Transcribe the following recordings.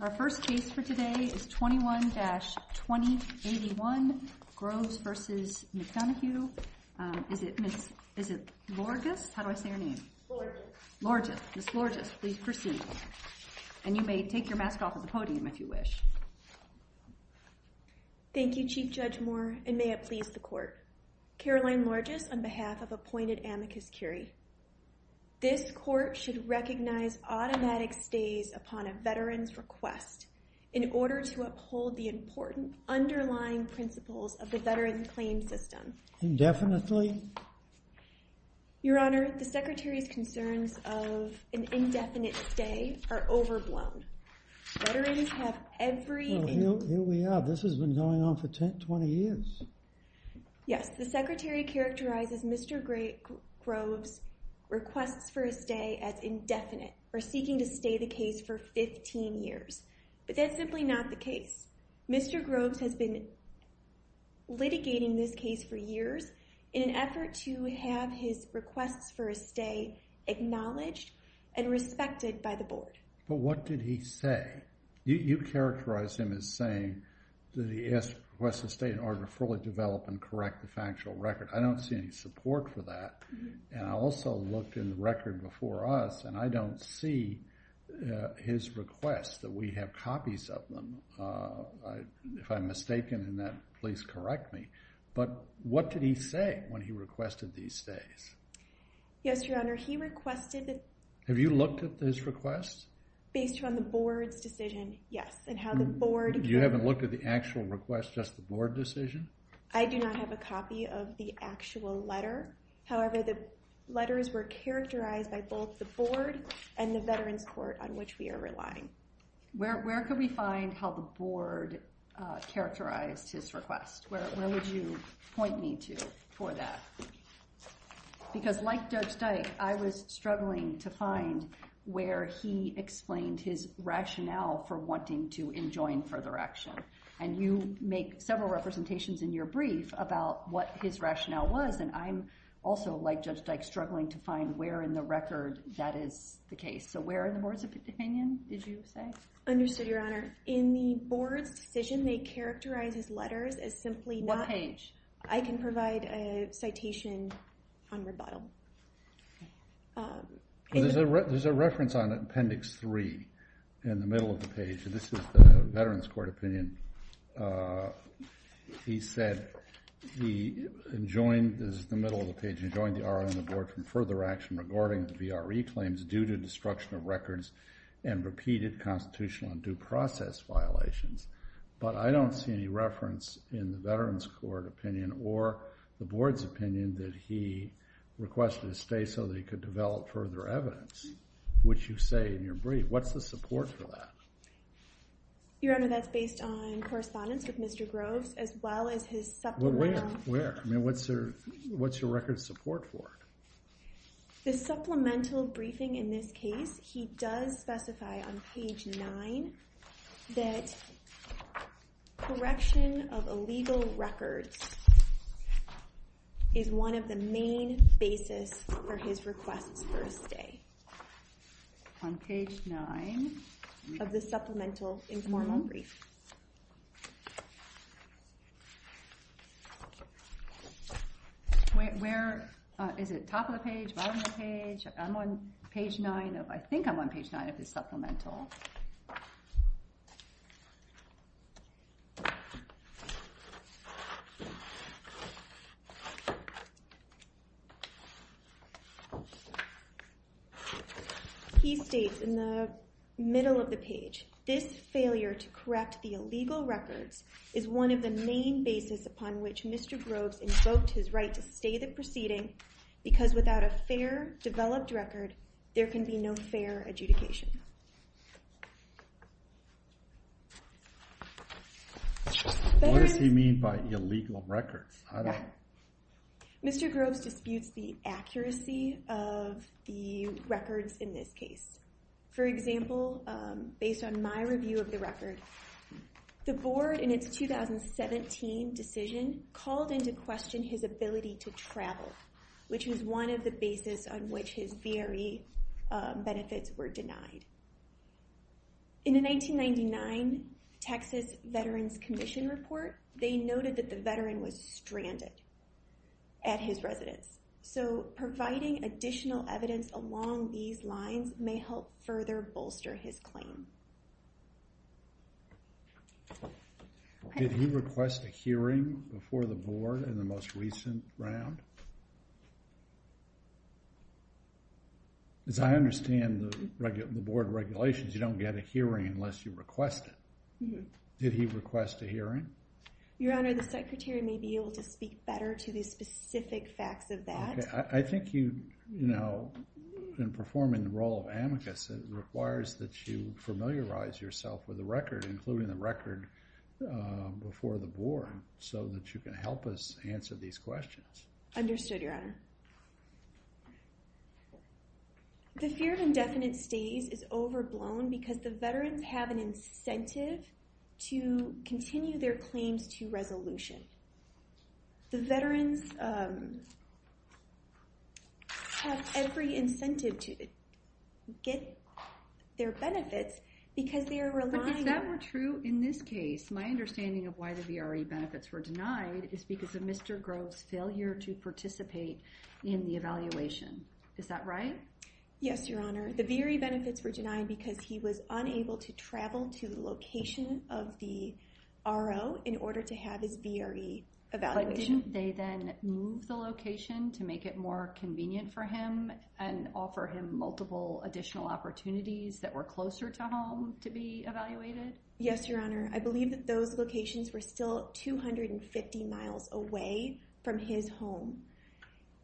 Our first case for today is 21-2081, Groves v. McDonough. Is it Ms. Lorgis? How do I say her name? Lorgis. Ms. Lorgis, please proceed. And you may take your mask off of the podium if you wish. Thank you, Chief Judge Moore, and may it please the Court. Caroline Lorgis, on behalf of appointed amicus curiae. This Court should recognize automatic stays upon a veteran's request in order to uphold the important underlying principles of the veteran's claim system. Indefinitely? Your Honor, the Secretary's concerns of an indefinite stay are overblown. Veterans have every... Well, here we are. This has been going on for 10, 20 years. Yes, the Secretary characterizes Mr. Groves' requests for a stay as indefinite or seeking to stay the case for 15 years. But that's simply not the case. Mr. Groves has been litigating this case for years in an effort to have his requests for a stay acknowledged and respected by the Board. But what did he say? You characterized him as saying that he requested a stay in order to fully develop and correct the factual record. I don't see any support for that. And I also looked in the record before us, and I don't see his request that we have copies of them. If I'm mistaken in that, please correct me. But what did he say when he requested these stays? Yes, Your Honor, he requested that... Have you looked at his requests? Based on the Board's decision, yes, and how the Board... You haven't looked at the actual request, just the Board decision? I do not have a copy of the actual letter. However, the letters were characterized by both the Board and the Veterans Court on which we are relying. Where could we find how the Board characterized his request? Where would you point me to for that? Because like Judge Dyke, I was struggling to find where he explained his rationale for wanting to enjoin further action. And you make several representations in your brief about what his rationale was, and I'm also, like Judge Dyke, struggling to find where in the record that is the case. So where in the Board's opinion did you say? Understood, Your Honor. In the Board's decision, they characterized his letters as simply not... What page? I can provide a citation on the bottom. There's a reference on Appendix 3 in the middle of the page. This is the Veterans Court opinion. He said he enjoined, this is the middle of the page, he enjoined the R.I. on the Board from further action regarding the VRE claims due to destruction of records and repeated constitutional and due process violations. But I don't see any reference in the Veterans Court opinion or the Board's opinion that he requested a stay so that he could develop further evidence, which you say in your brief. What's the support for that? Your Honor, that's based on correspondence with Mr. Groves as well as his supplemental... Where? I mean, what's your record of support for it? The supplemental briefing in this case, he does specify on page 9 that correction of illegal records is one of the main basis for his request for a stay. On page 9? Of the supplemental informal brief. Where? Is it top of the page, bottom of the page? I'm on page 9 of, I think I'm on page 9 of his supplemental. He states in the middle of the page, this failure to correct the illegal records is one of the main basis upon which Mr. Groves invoked his right to stay the proceeding because without a fair developed record, there can be no fair adjudication. What does he mean by illegal records? Mr. Groves disputes the accuracy of the records in this case. For example, based on my review of the record, the board in its 2017 decision called into question his ability to travel, which is one of the basis on which his VRE benefits were denied. In the 1999 Texas Veterans Commission report, they noted that the veteran was stranded at his residence. So providing additional evidence along these lines may help further bolster his claim. Did he request a hearing before the board in the most recent round? As I understand the board regulations, you don't get a hearing unless you request it. Did he request a hearing? Your Honor, the secretary may be able to speak better to the specific facts of that. I think you know, in performing the role of amicus, it requires that you familiarize yourself with the record, including the record before the board, so that you can help us answer these questions. Understood, Your Honor. The fear of indefinite stays is overblown because the veterans have an incentive to continue their claims to resolution. The veterans have every incentive to get their benefits because they are relying... But if that were true in this case, my understanding of why the VRE benefits were denied is because of Mr. Grove's failure to participate in the evaluation. Is that right? Yes, Your Honor. The VRE benefits were denied because he was unable to travel to the location of the RO in order to have his VRE evaluation. But didn't they then move the location to make it more convenient for him and offer him multiple additional opportunities that were closer to home to be evaluated? Yes, Your Honor. I believe that those locations were still 250 miles away from his home,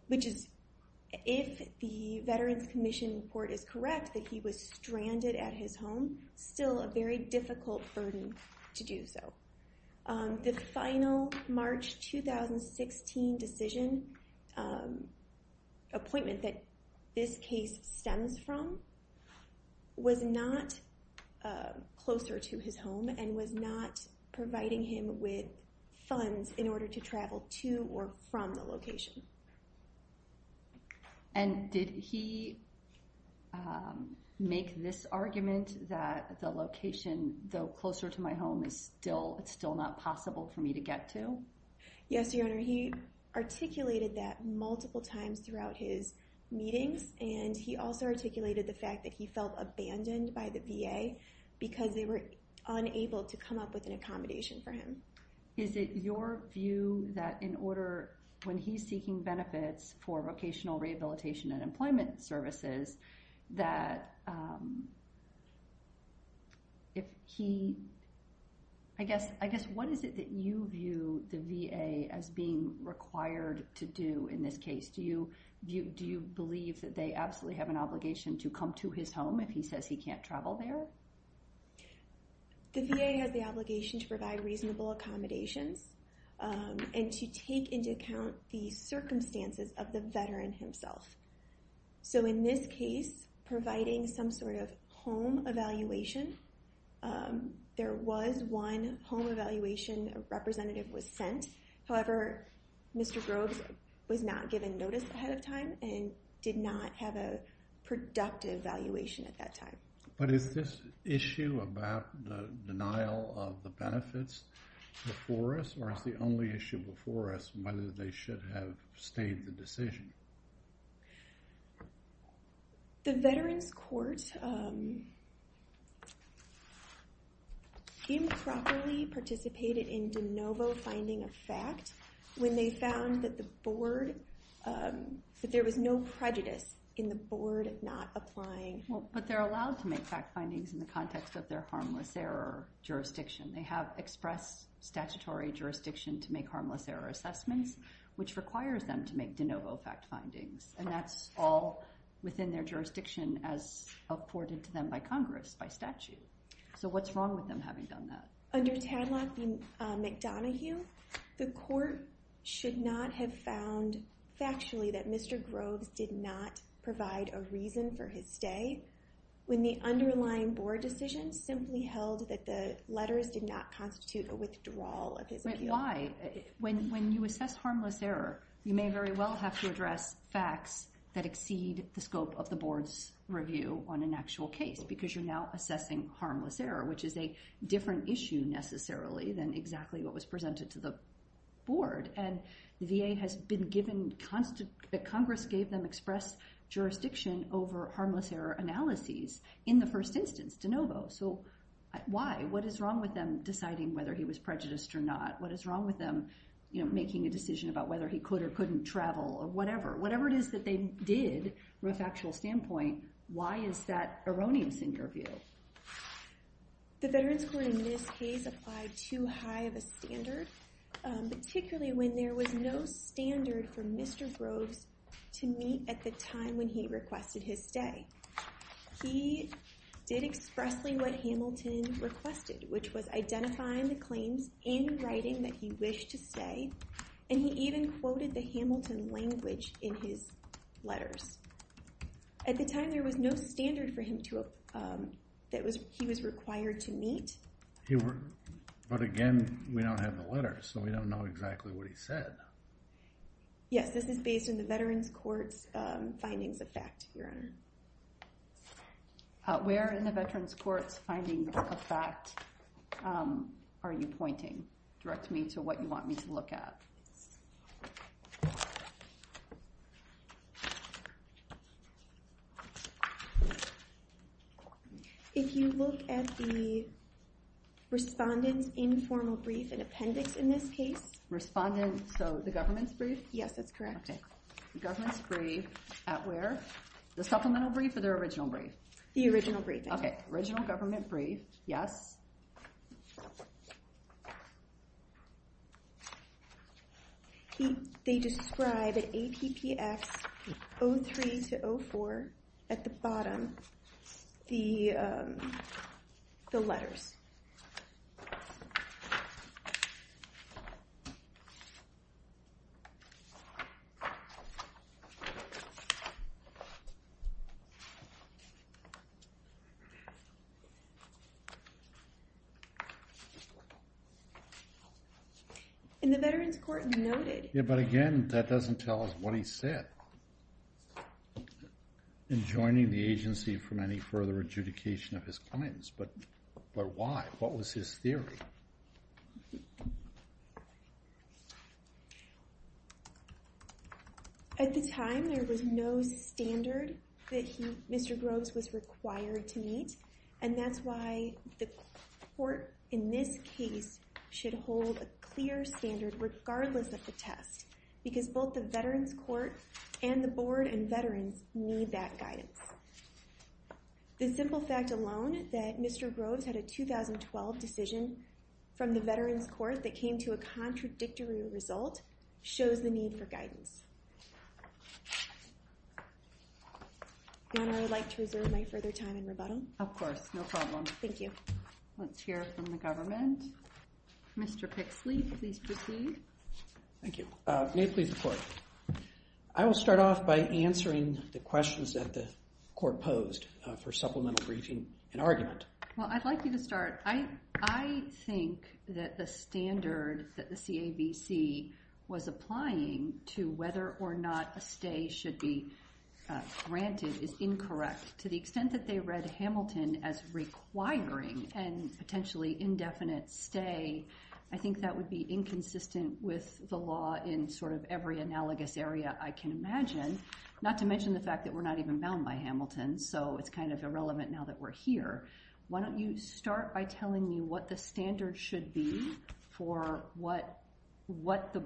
which is, if the Veterans Commission report is correct that he was stranded at his home, still a very difficult burden to do so. The final March 2016 decision appointment that this case stems from was not closer to his home and was not providing him with funds in order to travel to or from the location. And did he make this argument that the location though closer to my home is still not possible for me to get to? Yes, Your Honor. He articulated that multiple times throughout his meetings and he also articulated the fact that he felt abandoned by the VA because they were unable to come up with an accommodation for him. Is it your view that in order... when he's seeking benefits for vocational rehabilitation and employment services that if he... I guess what is it that you view the VA as being required to do in this case? Do you believe that they absolutely have an obligation to come to his home if he says he can't travel there? The VA has the obligation to provide reasonable accommodations and to take into account the circumstances of the veteran himself. So in this case, providing some sort of home evaluation, there was one home evaluation representative was sent. However, Mr. Groves was not given notice ahead of time and did not have a productive evaluation at that time. But is this issue about the denial of the benefits before us or is the only issue before us whether they should have abstained the decision? The Veterans Court... improperly participated in de novo finding of fact when they found that the board... that there was no prejudice in the board not applying. Well, but they're allowed to make fact findings in the context of their harmless error jurisdiction. They have expressed statutory jurisdiction to make harmless error assessments, which requires them to make de novo fact findings. And that's all within their jurisdiction as afforded to them by Congress by statute. So what's wrong with them having done that? Under Tadlock v. McDonoghue, the court should not have found factually that Mr. Groves did not provide a reason for his stay when the underlying board decision simply held that the letters did not constitute a withdrawal of his appeal. Why? When you assess harmless error, you may very well have to address facts that exceed the scope of the board's review on an actual case because you're now assessing harmless error, which is a different issue necessarily than exactly what was presented to the board. And VA has been given constant... Congress gave them express jurisdiction over harmless error analyses in the first instance, de novo. So why? What is wrong with them deciding whether he was prejudiced or not? What is wrong with them making a decision about whether he could or couldn't travel or whatever? Whatever it is that they did from a factual standpoint, why is that erroneous in your view? The veterans court in this case applied too high of a standard, particularly when there was no standard for Mr. Groves to meet at the time when he requested his stay. He did expressly what Hamilton requested, which was identifying the claims in writing that he wished to stay, and he even quoted the Hamilton language in his letters. At the time, there was no standard for him to... that he was required to meet. But again, we don't have the letters, so we don't know exactly what he said. Yes, this is based on the veterans court's findings of fact, Your Honor. Where in the veterans court's finding of fact are you pointing? Direct me to what you want me to look at. If you look at the respondent's informal brief and appendix in this case. Respondent, so the government's brief? Yes, that's correct. Okay. The government's brief at where? The supplemental brief or the original brief? The original brief. Okay. Original government brief. Yes. They describe at APPX 03-04, at the bottom, the letters. And the veterans court noted... Yes, but again, that doesn't tell us what he said in joining the agency from any further adjudication of his claims. But why? What was his theory? At the time, there was no standard that Mr. Groves was required to meet, and that's why the court in this case should hold a clear standard regardless of the test, because both the veterans court and the board and veterans need that guidance. The simple fact alone that Mr. Groves had a 2012 decision from the veterans court that came to a contradictory result shows the need for guidance. Your Honor, I would like to reserve my further time in rebuttal. Of course. No problem. Thank you. Let's hear from the government. Mr. Pixley, please proceed. Thank you. May it please the court. I will start off by answering the questions that the court posed for supplemental briefing and argument. Well, I'd like you to start. I think that the standard that the CABC was applying to whether or not a stay should be granted is incorrect. To the extent that they read Hamilton as requiring and potentially indefinite stay, I think that would be inconsistent with the law in sort of every analogous area I can imagine, not to mention the fact that we're not even bound by Hamilton, so it's kind of irrelevant now that we're here. Why don't you start by telling me what the standard should be for what the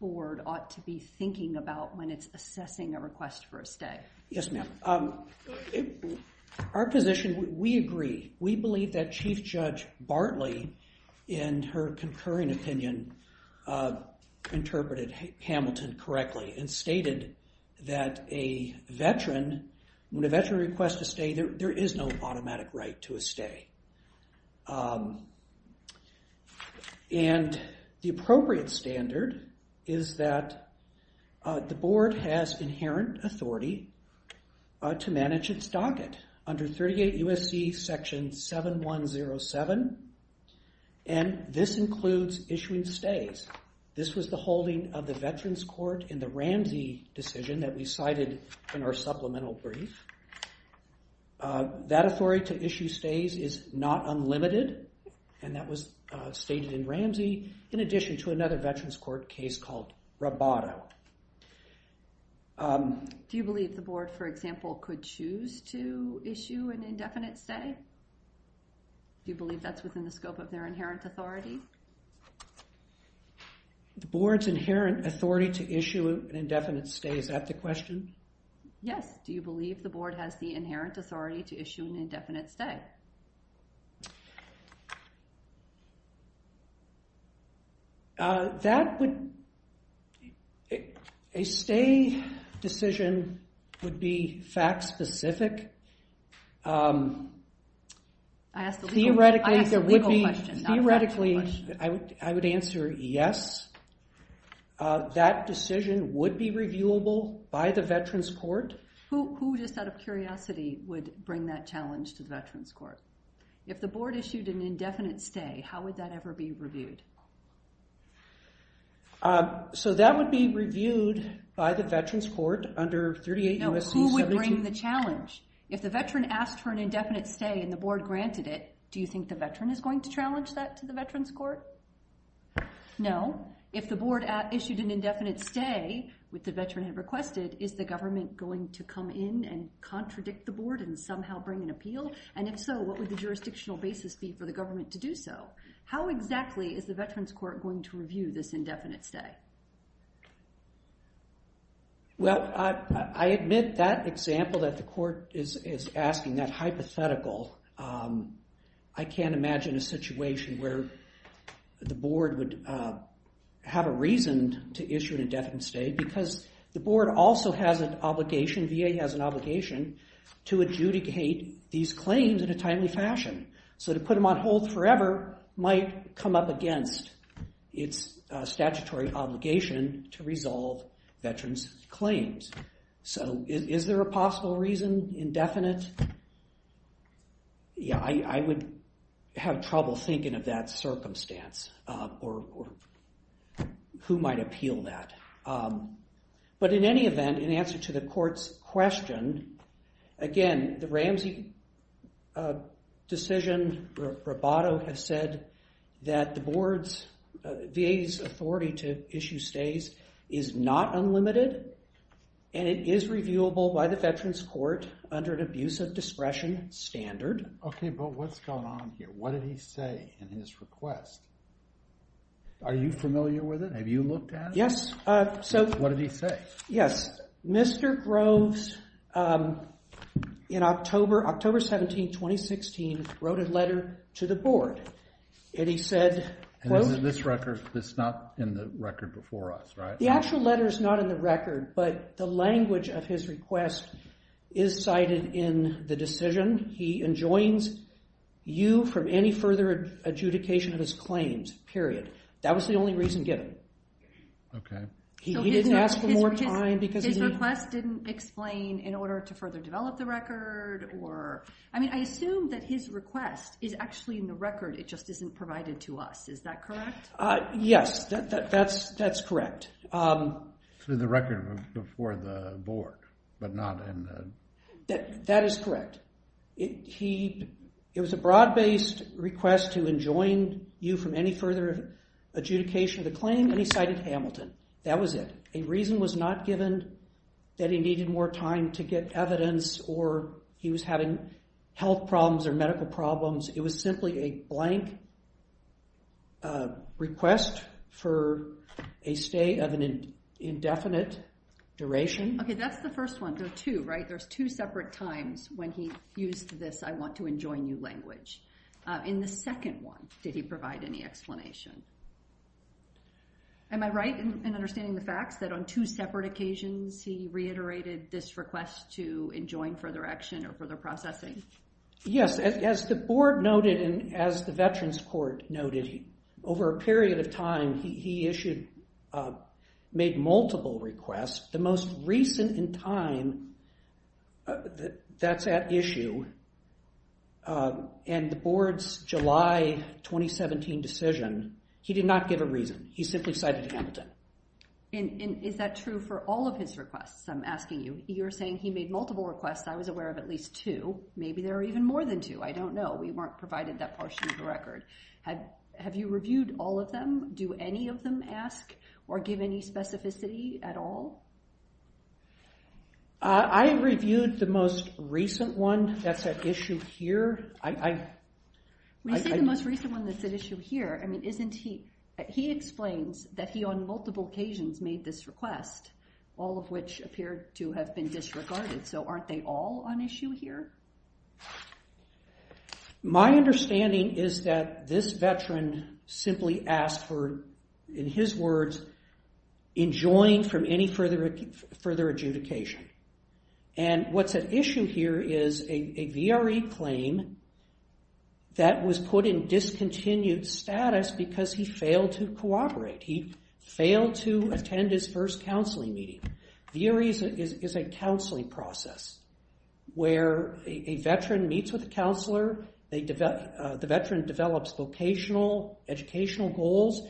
board ought to be thinking about when it's assessing a request for a stay. Yes, ma'am. Our position, we agree. We believe that Chief Judge Bartley, in her concurring opinion, interpreted Hamilton correctly and stated that a veteran, when a veteran requests a stay, there is no automatic right to a stay. The appropriate standard is that the board has inherent authority to manage its docket under 38 U.S.C. Section 7107, and this includes issuing stays. This was the holding of the Veterans Court in the Ramsey decision that we cited in our supplemental brief. That authority to issue stays is not unlimited, and that was stated in Ramsey, in addition to another Veterans Court case called Roboto. Do you believe the board, for example, could choose to issue an indefinite stay? Do you believe that's within the scope of their inherent authority? The board's inherent authority to issue an indefinite stay, is that the question? Yes. Do you believe the board has the inherent authority to issue an indefinite stay? That would... A stay decision would be fact-specific. I asked a legal question, not a factual question. Theoretically, I would answer yes. That decision would be reviewable by the Veterans Court. Who, just out of curiosity, would bring that challenge to the Veterans Court? If the board issued an indefinite stay, how would that ever be reviewed? That would be reviewed by the Veterans Court under 38 U.S.C. 17... No, who would bring the challenge? If the veteran asked for an indefinite stay and the board granted it, do you think the veteran is going to challenge that to the Veterans Court? No. If the board issued an indefinite stay, which the veteran had requested, is the government going to come in and contradict the board and somehow bring an appeal? And if so, what would the jurisdictional basis be for the government to do so? How exactly is the Veterans Court going to review this indefinite stay? Well, I admit that example that the court is asking, that hypothetical, I can't imagine a situation where the board would have a reason to issue an indefinite stay because the board also has an obligation, VA has an obligation, to adjudicate these claims in a timely fashion. So to put them on hold forever might come up against its statutory obligation to resolve veterans' claims. So is there a possible reason, indefinite? Yeah, I would have trouble thinking of that circumstance or who might appeal that. But in any event, in answer to the court's question, again, the Ramsey decision, Roboto has said, that the VA's authority to issue stays is not unlimited and it is reviewable by the Veterans Court under an abuse of discretion standard. Okay, but what's going on here? What did he say in his request? Are you familiar with it? Have you looked at it? Yes, so... What did he say? Yes, Mr. Groves, in October 17, 2016, wrote a letter to the board and he said, And this record is not in the record before us, right? The actual letter is not in the record, but the language of his request is cited in the decision. He enjoins you from any further adjudication of his claims, period. That was the only reason given. Okay. He didn't ask for more time because he... His request didn't explain in order to further develop the record or... I mean, I assume that his request is actually in the record, it just isn't provided to us. Is that correct? Yes, that's correct. Through the record before the board, but not in the... That is correct. It was a broad-based request to enjoin you from any further adjudication of the claim, and he cited Hamilton. That was it. A reason was not given that he needed more time to get evidence or he was having health problems or medical problems. It was simply a blank request for a stay of an indefinite duration. Okay, that's the first one. There are two, right? When he used this, I want to enjoin you language. In the second one, did he provide any explanation? Am I right in understanding the facts that on two separate occasions he reiterated this request to enjoin further action or further processing? Yes. As the board noted and as the Veterans Court noted, over a period of time he issued... made multiple requests. The most recent in time, that's at issue, and the board's July 2017 decision, he did not give a reason. He simply cited Hamilton. And is that true for all of his requests I'm asking you? You're saying he made multiple requests. I was aware of at least two. Maybe there are even more than two. I don't know. We weren't provided that portion of the record. Have you reviewed all of them? Do any of them ask or give any specificity at all? I reviewed the most recent one. That's at issue here. When you say the most recent one that's at issue here, he explains that he on multiple occasions made this request, all of which appear to have been disregarded. So aren't they all on issue here? My understanding is that this veteran simply asked for, in his words, enjoining from any further adjudication. And what's at issue here is a VRE claim that was put in discontinued status because he failed to cooperate. He failed to attend his first counseling meeting. VRE is a counseling process where a veteran meets with a counselor. The veteran develops vocational, educational goals.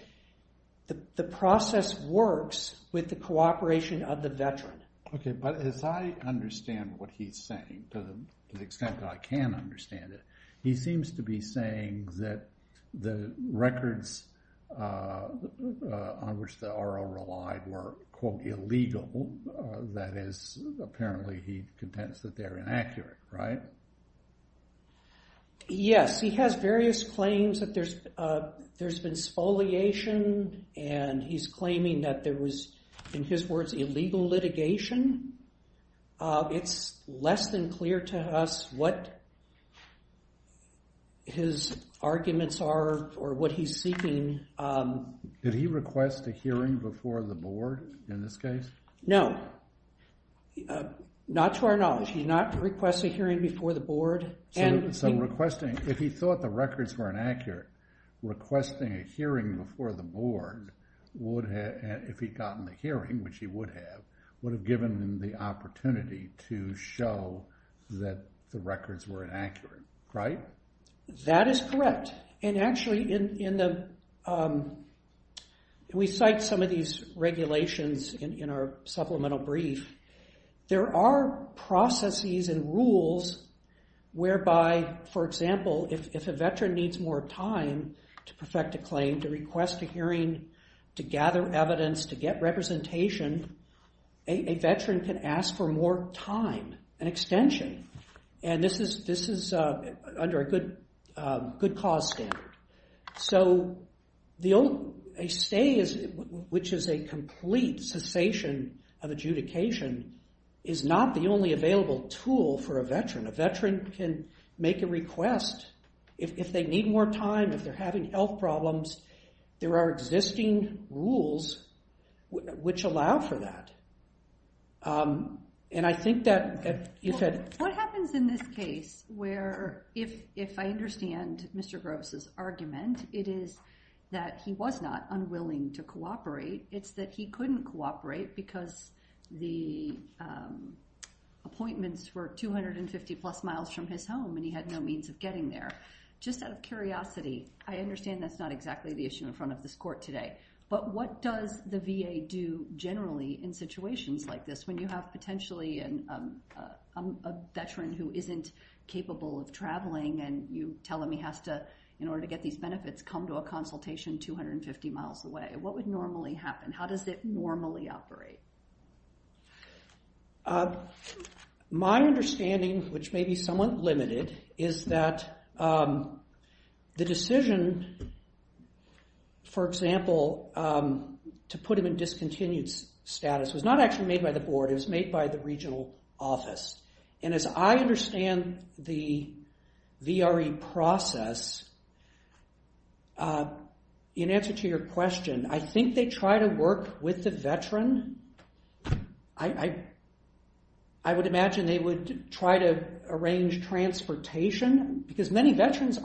The process works with the cooperation of the veteran. Okay, but as I understand what he's saying, to the extent that I can understand it, he seems to be saying that the records on which the RO relied were, quote, illegal. That is, apparently he contends that they're inaccurate, right? Yes. He has various claims that there's been spoliation, and he's claiming that there was, in his words, illegal litigation. It's less than clear to us what his arguments are or what he's seeking. Did he request a hearing before the board in this case? No. Not to our knowledge. He did not request a hearing before the board. So requesting, if he thought the records were inaccurate, requesting a hearing before the board would have, if he'd gotten the hearing, which he would have, would have given him the opportunity to show that the records were inaccurate, right? That is correct. And actually, we cite some of these regulations in our supplemental brief. There are processes and rules whereby, for example, if a veteran needs more time to perfect a claim, to request a hearing, to gather evidence, to get representation, a veteran can ask for more time, an extension. And this is under a good cause standard. So a stay, which is a complete cessation of adjudication, is not the only available tool for a veteran. A veteran can make a request. If they need more time, if they're having health problems, there are existing rules which allow for that. And I think that you said... What happens in this case where, if I understand Mr. Groves' argument, it is that he was not unwilling to cooperate. It's that he couldn't cooperate because the appointments were 250 plus miles from his home and he had no means of getting there. Just out of curiosity, I understand that's not exactly the issue in front of this court today. But what does the VA do generally in situations like this when you have potentially a veteran who isn't capable of traveling and you tell him he has to, in order to get these benefits, come to a consultation 250 miles away? What would normally happen? How does it normally operate? My understanding, which may be somewhat limited, is that the decision, for example, to put him in discontinued status was not actually made by the board. It was made by the regional office. And as I understand the VRE process, in answer to your question, I think they try to work with the veteran. I would imagine they would try to arrange transportation because many veterans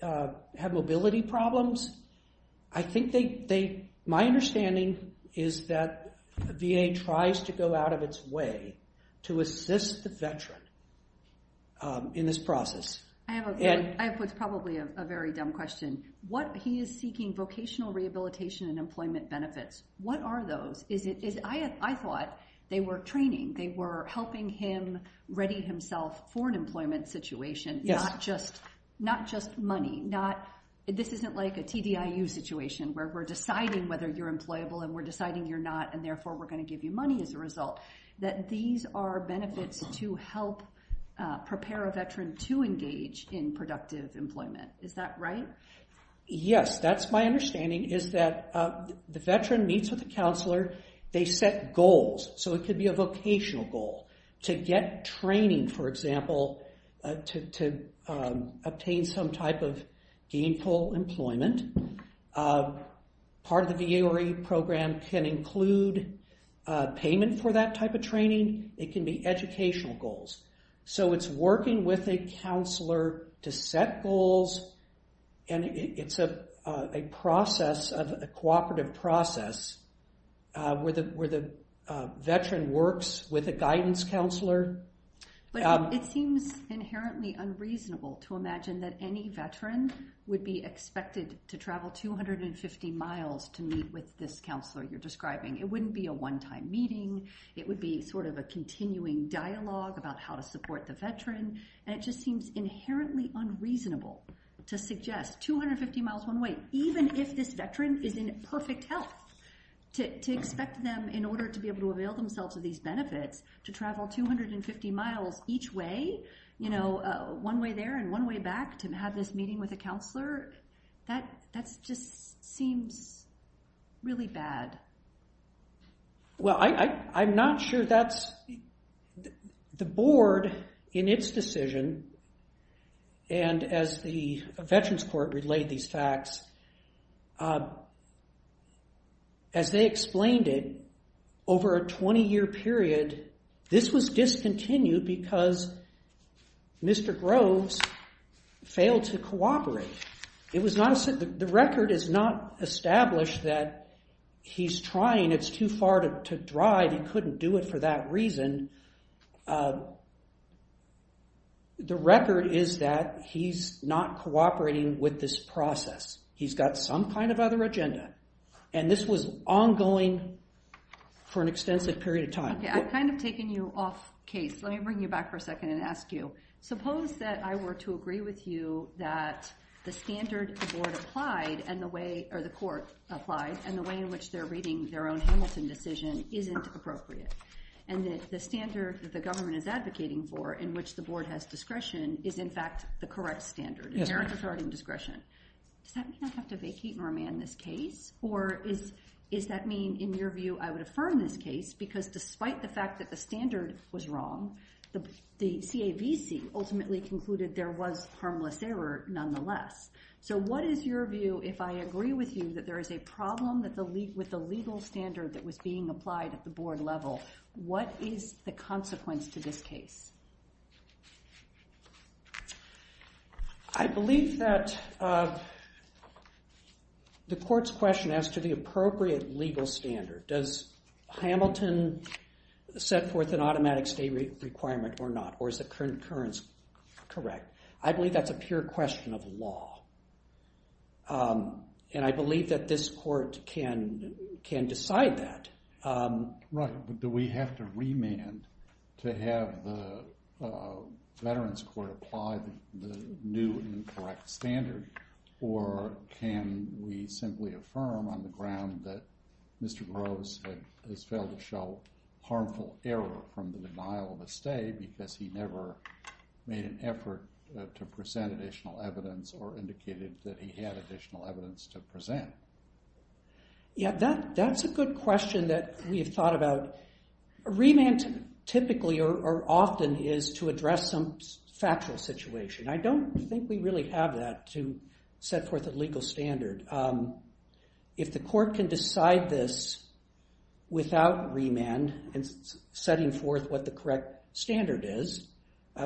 have mobility problems. My understanding is that the VA tries to go out of its way to assist the veteran in this process. I have what's probably a very dumb question. He is seeking vocational rehabilitation and employment benefits. What are those? I thought they were training. They were helping him ready himself for an employment situation, not just money. This isn't like a TDIU situation where we're deciding whether you're employable and we're deciding you're not, and therefore we're going to give you money as a result. These are benefits to help prepare a veteran to engage in productive employment. Is that right? Yes. That's my understanding, is that the veteran meets with the counselor. They set goals. So it could be a vocational goal to get training, for example, to obtain some type of gainful employment. Part of the VRE program can include payment for that type of training. It can be educational goals. So it's working with a counselor to set goals, and it's a cooperative process where the veteran works with a guidance counselor. It seems inherently unreasonable to imagine that any veteran would be expected to travel 250 miles to meet with this counselor you're describing. It wouldn't be a one-time meeting. It would be sort of a continuing dialogue about how to support the veteran, and it just seems inherently unreasonable to suggest 250 miles one way, even if this veteran is in perfect health, to expect them, in order to be able to avail themselves of these benefits, to travel 250 miles each way, one way there and one way back, to have this meeting with a counselor. That just seems really bad. Well, I'm not sure that's the board in its decision, and as the Veterans Court relayed these facts, as they explained it, over a 20-year period, this was discontinued because Mr. Groves failed to cooperate. The record is not established that he's trying. It's too far to drive. He couldn't do it for that reason. The record is that he's not cooperating with this process. He's got some kind of other agenda, and this was ongoing for an extensive period of time. Okay, I've kind of taken you off case. Let me bring you back for a second and ask you. Suppose that I were to agree with you that the standard the board applied, or the court applied, and the way in which they're reading their own Hamilton decision isn't appropriate, and that the standard that the government is advocating for, in which the board has discretion, is in fact the correct standard, inherent authority and discretion. Does that mean I have to vacate and remand this case, or does that mean, in your view, I would affirm this case, because despite the fact that the standard was wrong, the CAVC ultimately concluded there was harmless error nonetheless. So what is your view if I agree with you that there is a problem with the legal standard that was being applied at the board level? What is the consequence to this case? I believe that the court's question as to the appropriate legal standard. Does Hamilton set forth an automatic stay requirement or not, or is the concurrence correct? I believe that's a pure question of law, and I believe that this court can decide that. Right, but do we have to remand to have the Veterans Court apply the new and correct standard, or can we simply affirm on the ground that Mr. Groves has failed to show harmful error from the denial of a stay because he never made an effort to present additional evidence or indicated that he had additional evidence to present? Yeah, that's a good question that we have thought about. A remand typically or often is to address some factual situation. I don't think we really have that to set forth a legal standard. If the court can decide this without remand and setting forth what the correct standard is,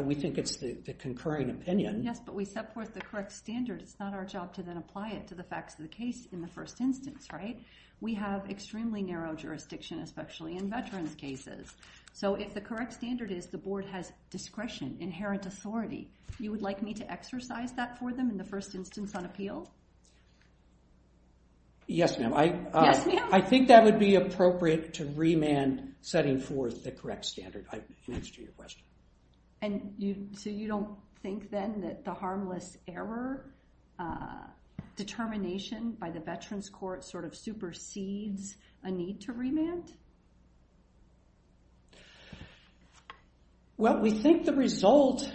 we think it's the concurring opinion. Yes, but we set forth the correct standard. It's not our job to then apply it to the facts of the case in the first instance, right? We have extremely narrow jurisdiction, especially in veterans' cases. So if the correct standard is the board has discretion, inherent authority, you would like me to exercise that for them in the first instance on appeal? Yes, ma'am. Yes, ma'am. I think that would be appropriate to remand setting forth the correct standard in answer to your question. And so you don't think then that the harmless error determination by the Veterans Court sort of supersedes a need to remand? Well, we think the result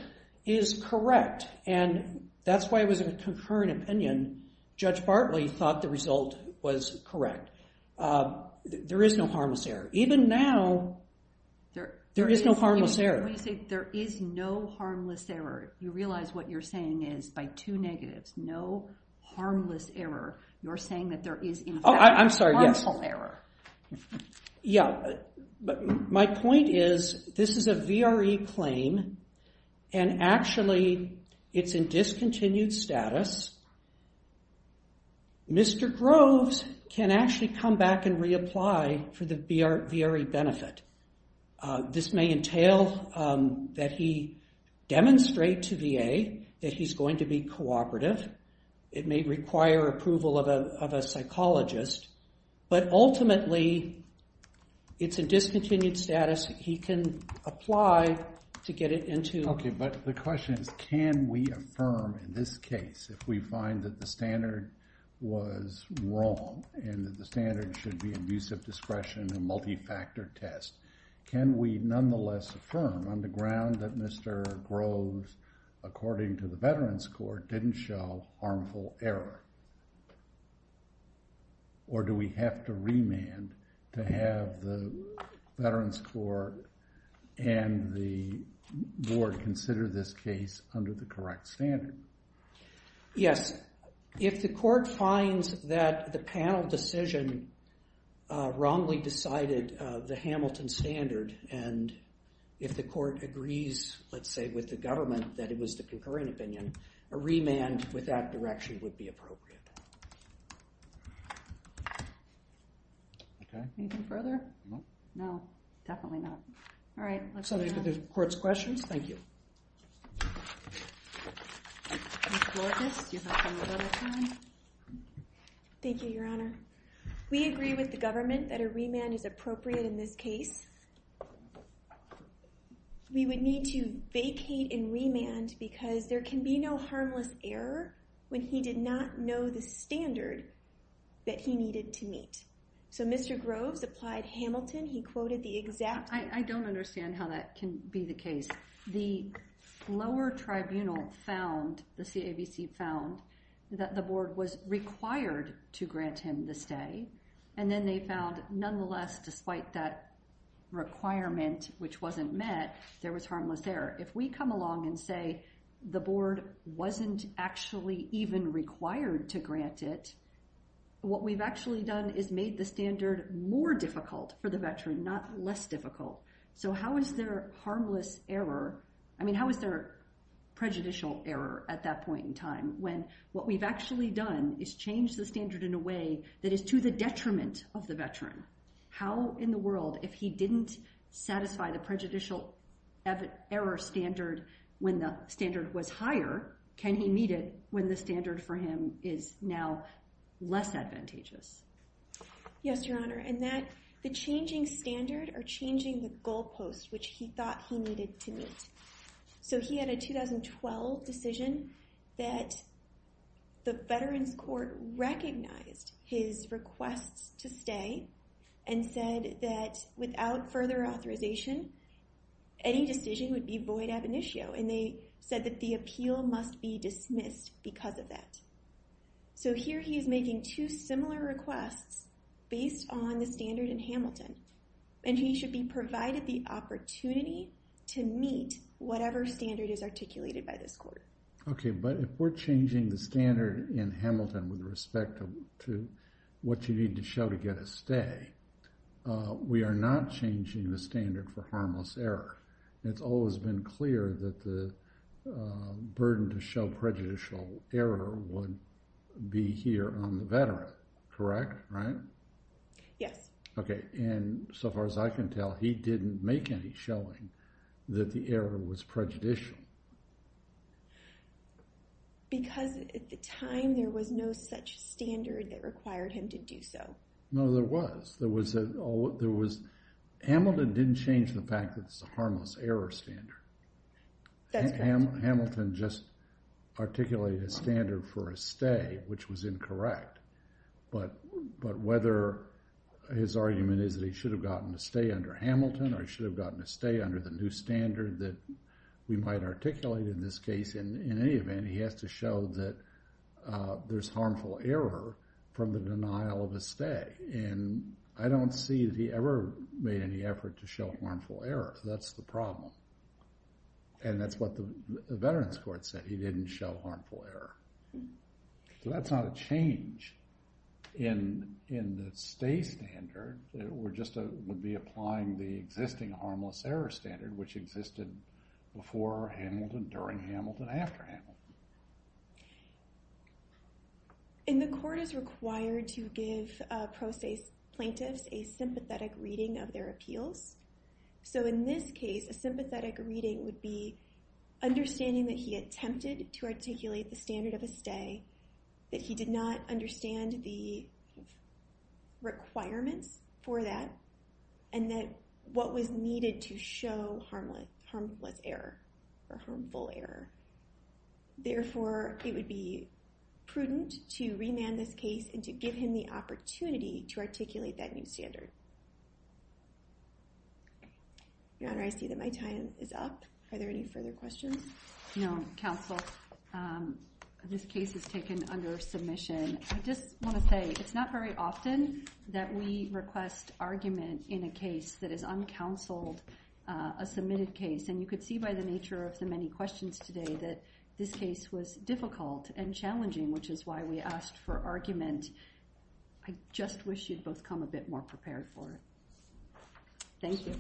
is correct, and that's why it was a concurring opinion. Judge Bartley thought the result was correct. There is no harmless error. Even now, there is no harmless error. When you say there is no harmless error, you realize what you're saying is by two negatives, no harmless error. You're saying that there is, in fact, harmful error. Yeah. My point is this is a VRE claim, and actually it's in discontinued status. Mr. Groves can actually come back and reapply for the VRE benefit. This may entail that he demonstrate to VA that he's going to be cooperative. It may require approval of a psychologist. But ultimately, it's in discontinued status. He can apply to get it into. Okay, but the question is can we affirm in this case if we find that the standard was wrong and that the standard should be abusive discretion and multi-factor test, can we nonetheless affirm on the ground that Mr. Groves, according to the Veterans Court, didn't show harmful error? Or do we have to remand to have the Veterans Court and the board consider this case under the correct standard? Yes. If the court finds that the panel decision wrongly decided the Hamilton standard and if the court agrees, let's say, with the government that it was the concurring opinion, a remand with that direction would be appropriate. Okay. Anything further? No. No, definitely not. All right, let's move on. So there's the court's questions. Thank you. Ms. Lourdes, do you have any more time? Thank you, Your Honor. We agree with the government that a remand is appropriate in this case. We would need to vacate and remand because there can be no harmless error when he did not know the standard that he needed to meet. So Mr. Groves applied Hamilton. He quoted the exact... I don't understand how that can be the case. The lower tribunal found, the CAVC found, that the board was required to grant him the stay, and then they found nonetheless, despite that requirement, which wasn't met, there was harmless error. If we come along and say the board wasn't actually even required to grant it, what we've actually done is made the standard more difficult for the veteran, not less difficult. So how is there harmless error? I mean, how is there prejudicial error at that point in time when what we've actually done is change the standard in a way that is to the detriment of the veteran? How in the world, if he didn't satisfy the prejudicial error standard when the standard was higher, can he meet it when the standard for him is now less advantageous? Yes, Your Honor. And that the changing standard or changing the goalpost, which he thought he needed to meet. So he had a 2012 decision that the Veterans Court recognized his requests to stay and said that without further authorization, any decision would be void ab initio, and they said that the appeal must be dismissed because of that. So here he is making two similar requests based on the standard in Hamilton, and he should be provided the opportunity to meet whatever standard is articulated by this court. Okay, but if we're changing the standard in Hamilton with respect to what you need to show to get a stay, we are not changing the standard for harmless error. It's always been clear that the burden to show prejudicial error would be here on the veteran, correct? Right? Yes. Okay, and so far as I can tell, he didn't make any showing that the error was prejudicial. Because at the time there was no such standard that required him to do so. No, there was. Hamilton didn't change the fact that it's a harmless error standard. That's right. Hamilton just articulated a standard for a stay, which was incorrect. But whether his argument is that he should have gotten a stay under Hamilton or he should have gotten a stay under the new standard that we might articulate in this case, in any event, he has to show that there's harmful error from the denial of a stay. And I don't see that he ever made any effort to show harmful error. That's the problem. And that's what the Veterans Court said. He didn't show harmful error. So that's not a change in the stay standard. It would be applying the existing harmless error standard, which existed before Hamilton, during Hamilton, and after Hamilton. And the court is required to give pro se plaintiffs a sympathetic reading of their appeals. So in this case, a sympathetic reading would be understanding that he attempted to articulate the standard of a stay, that he did not understand the requirements for that, and that what was needed to show harmless error or harmful error. Therefore, it would be prudent to remand this case and to give him the opportunity to articulate that new standard. Your Honor, I see that my time is up. Are there any further questions? Your Honor, counsel, this case is taken under submission. I just want to say, it's not very often that we request argument in a case that is uncounseled, a submitted case. And you could see by the nature of the many questions today that this case was difficult and challenging, which is why we asked for argument. I just wish you'd both come a bit more prepared for it. Thank you.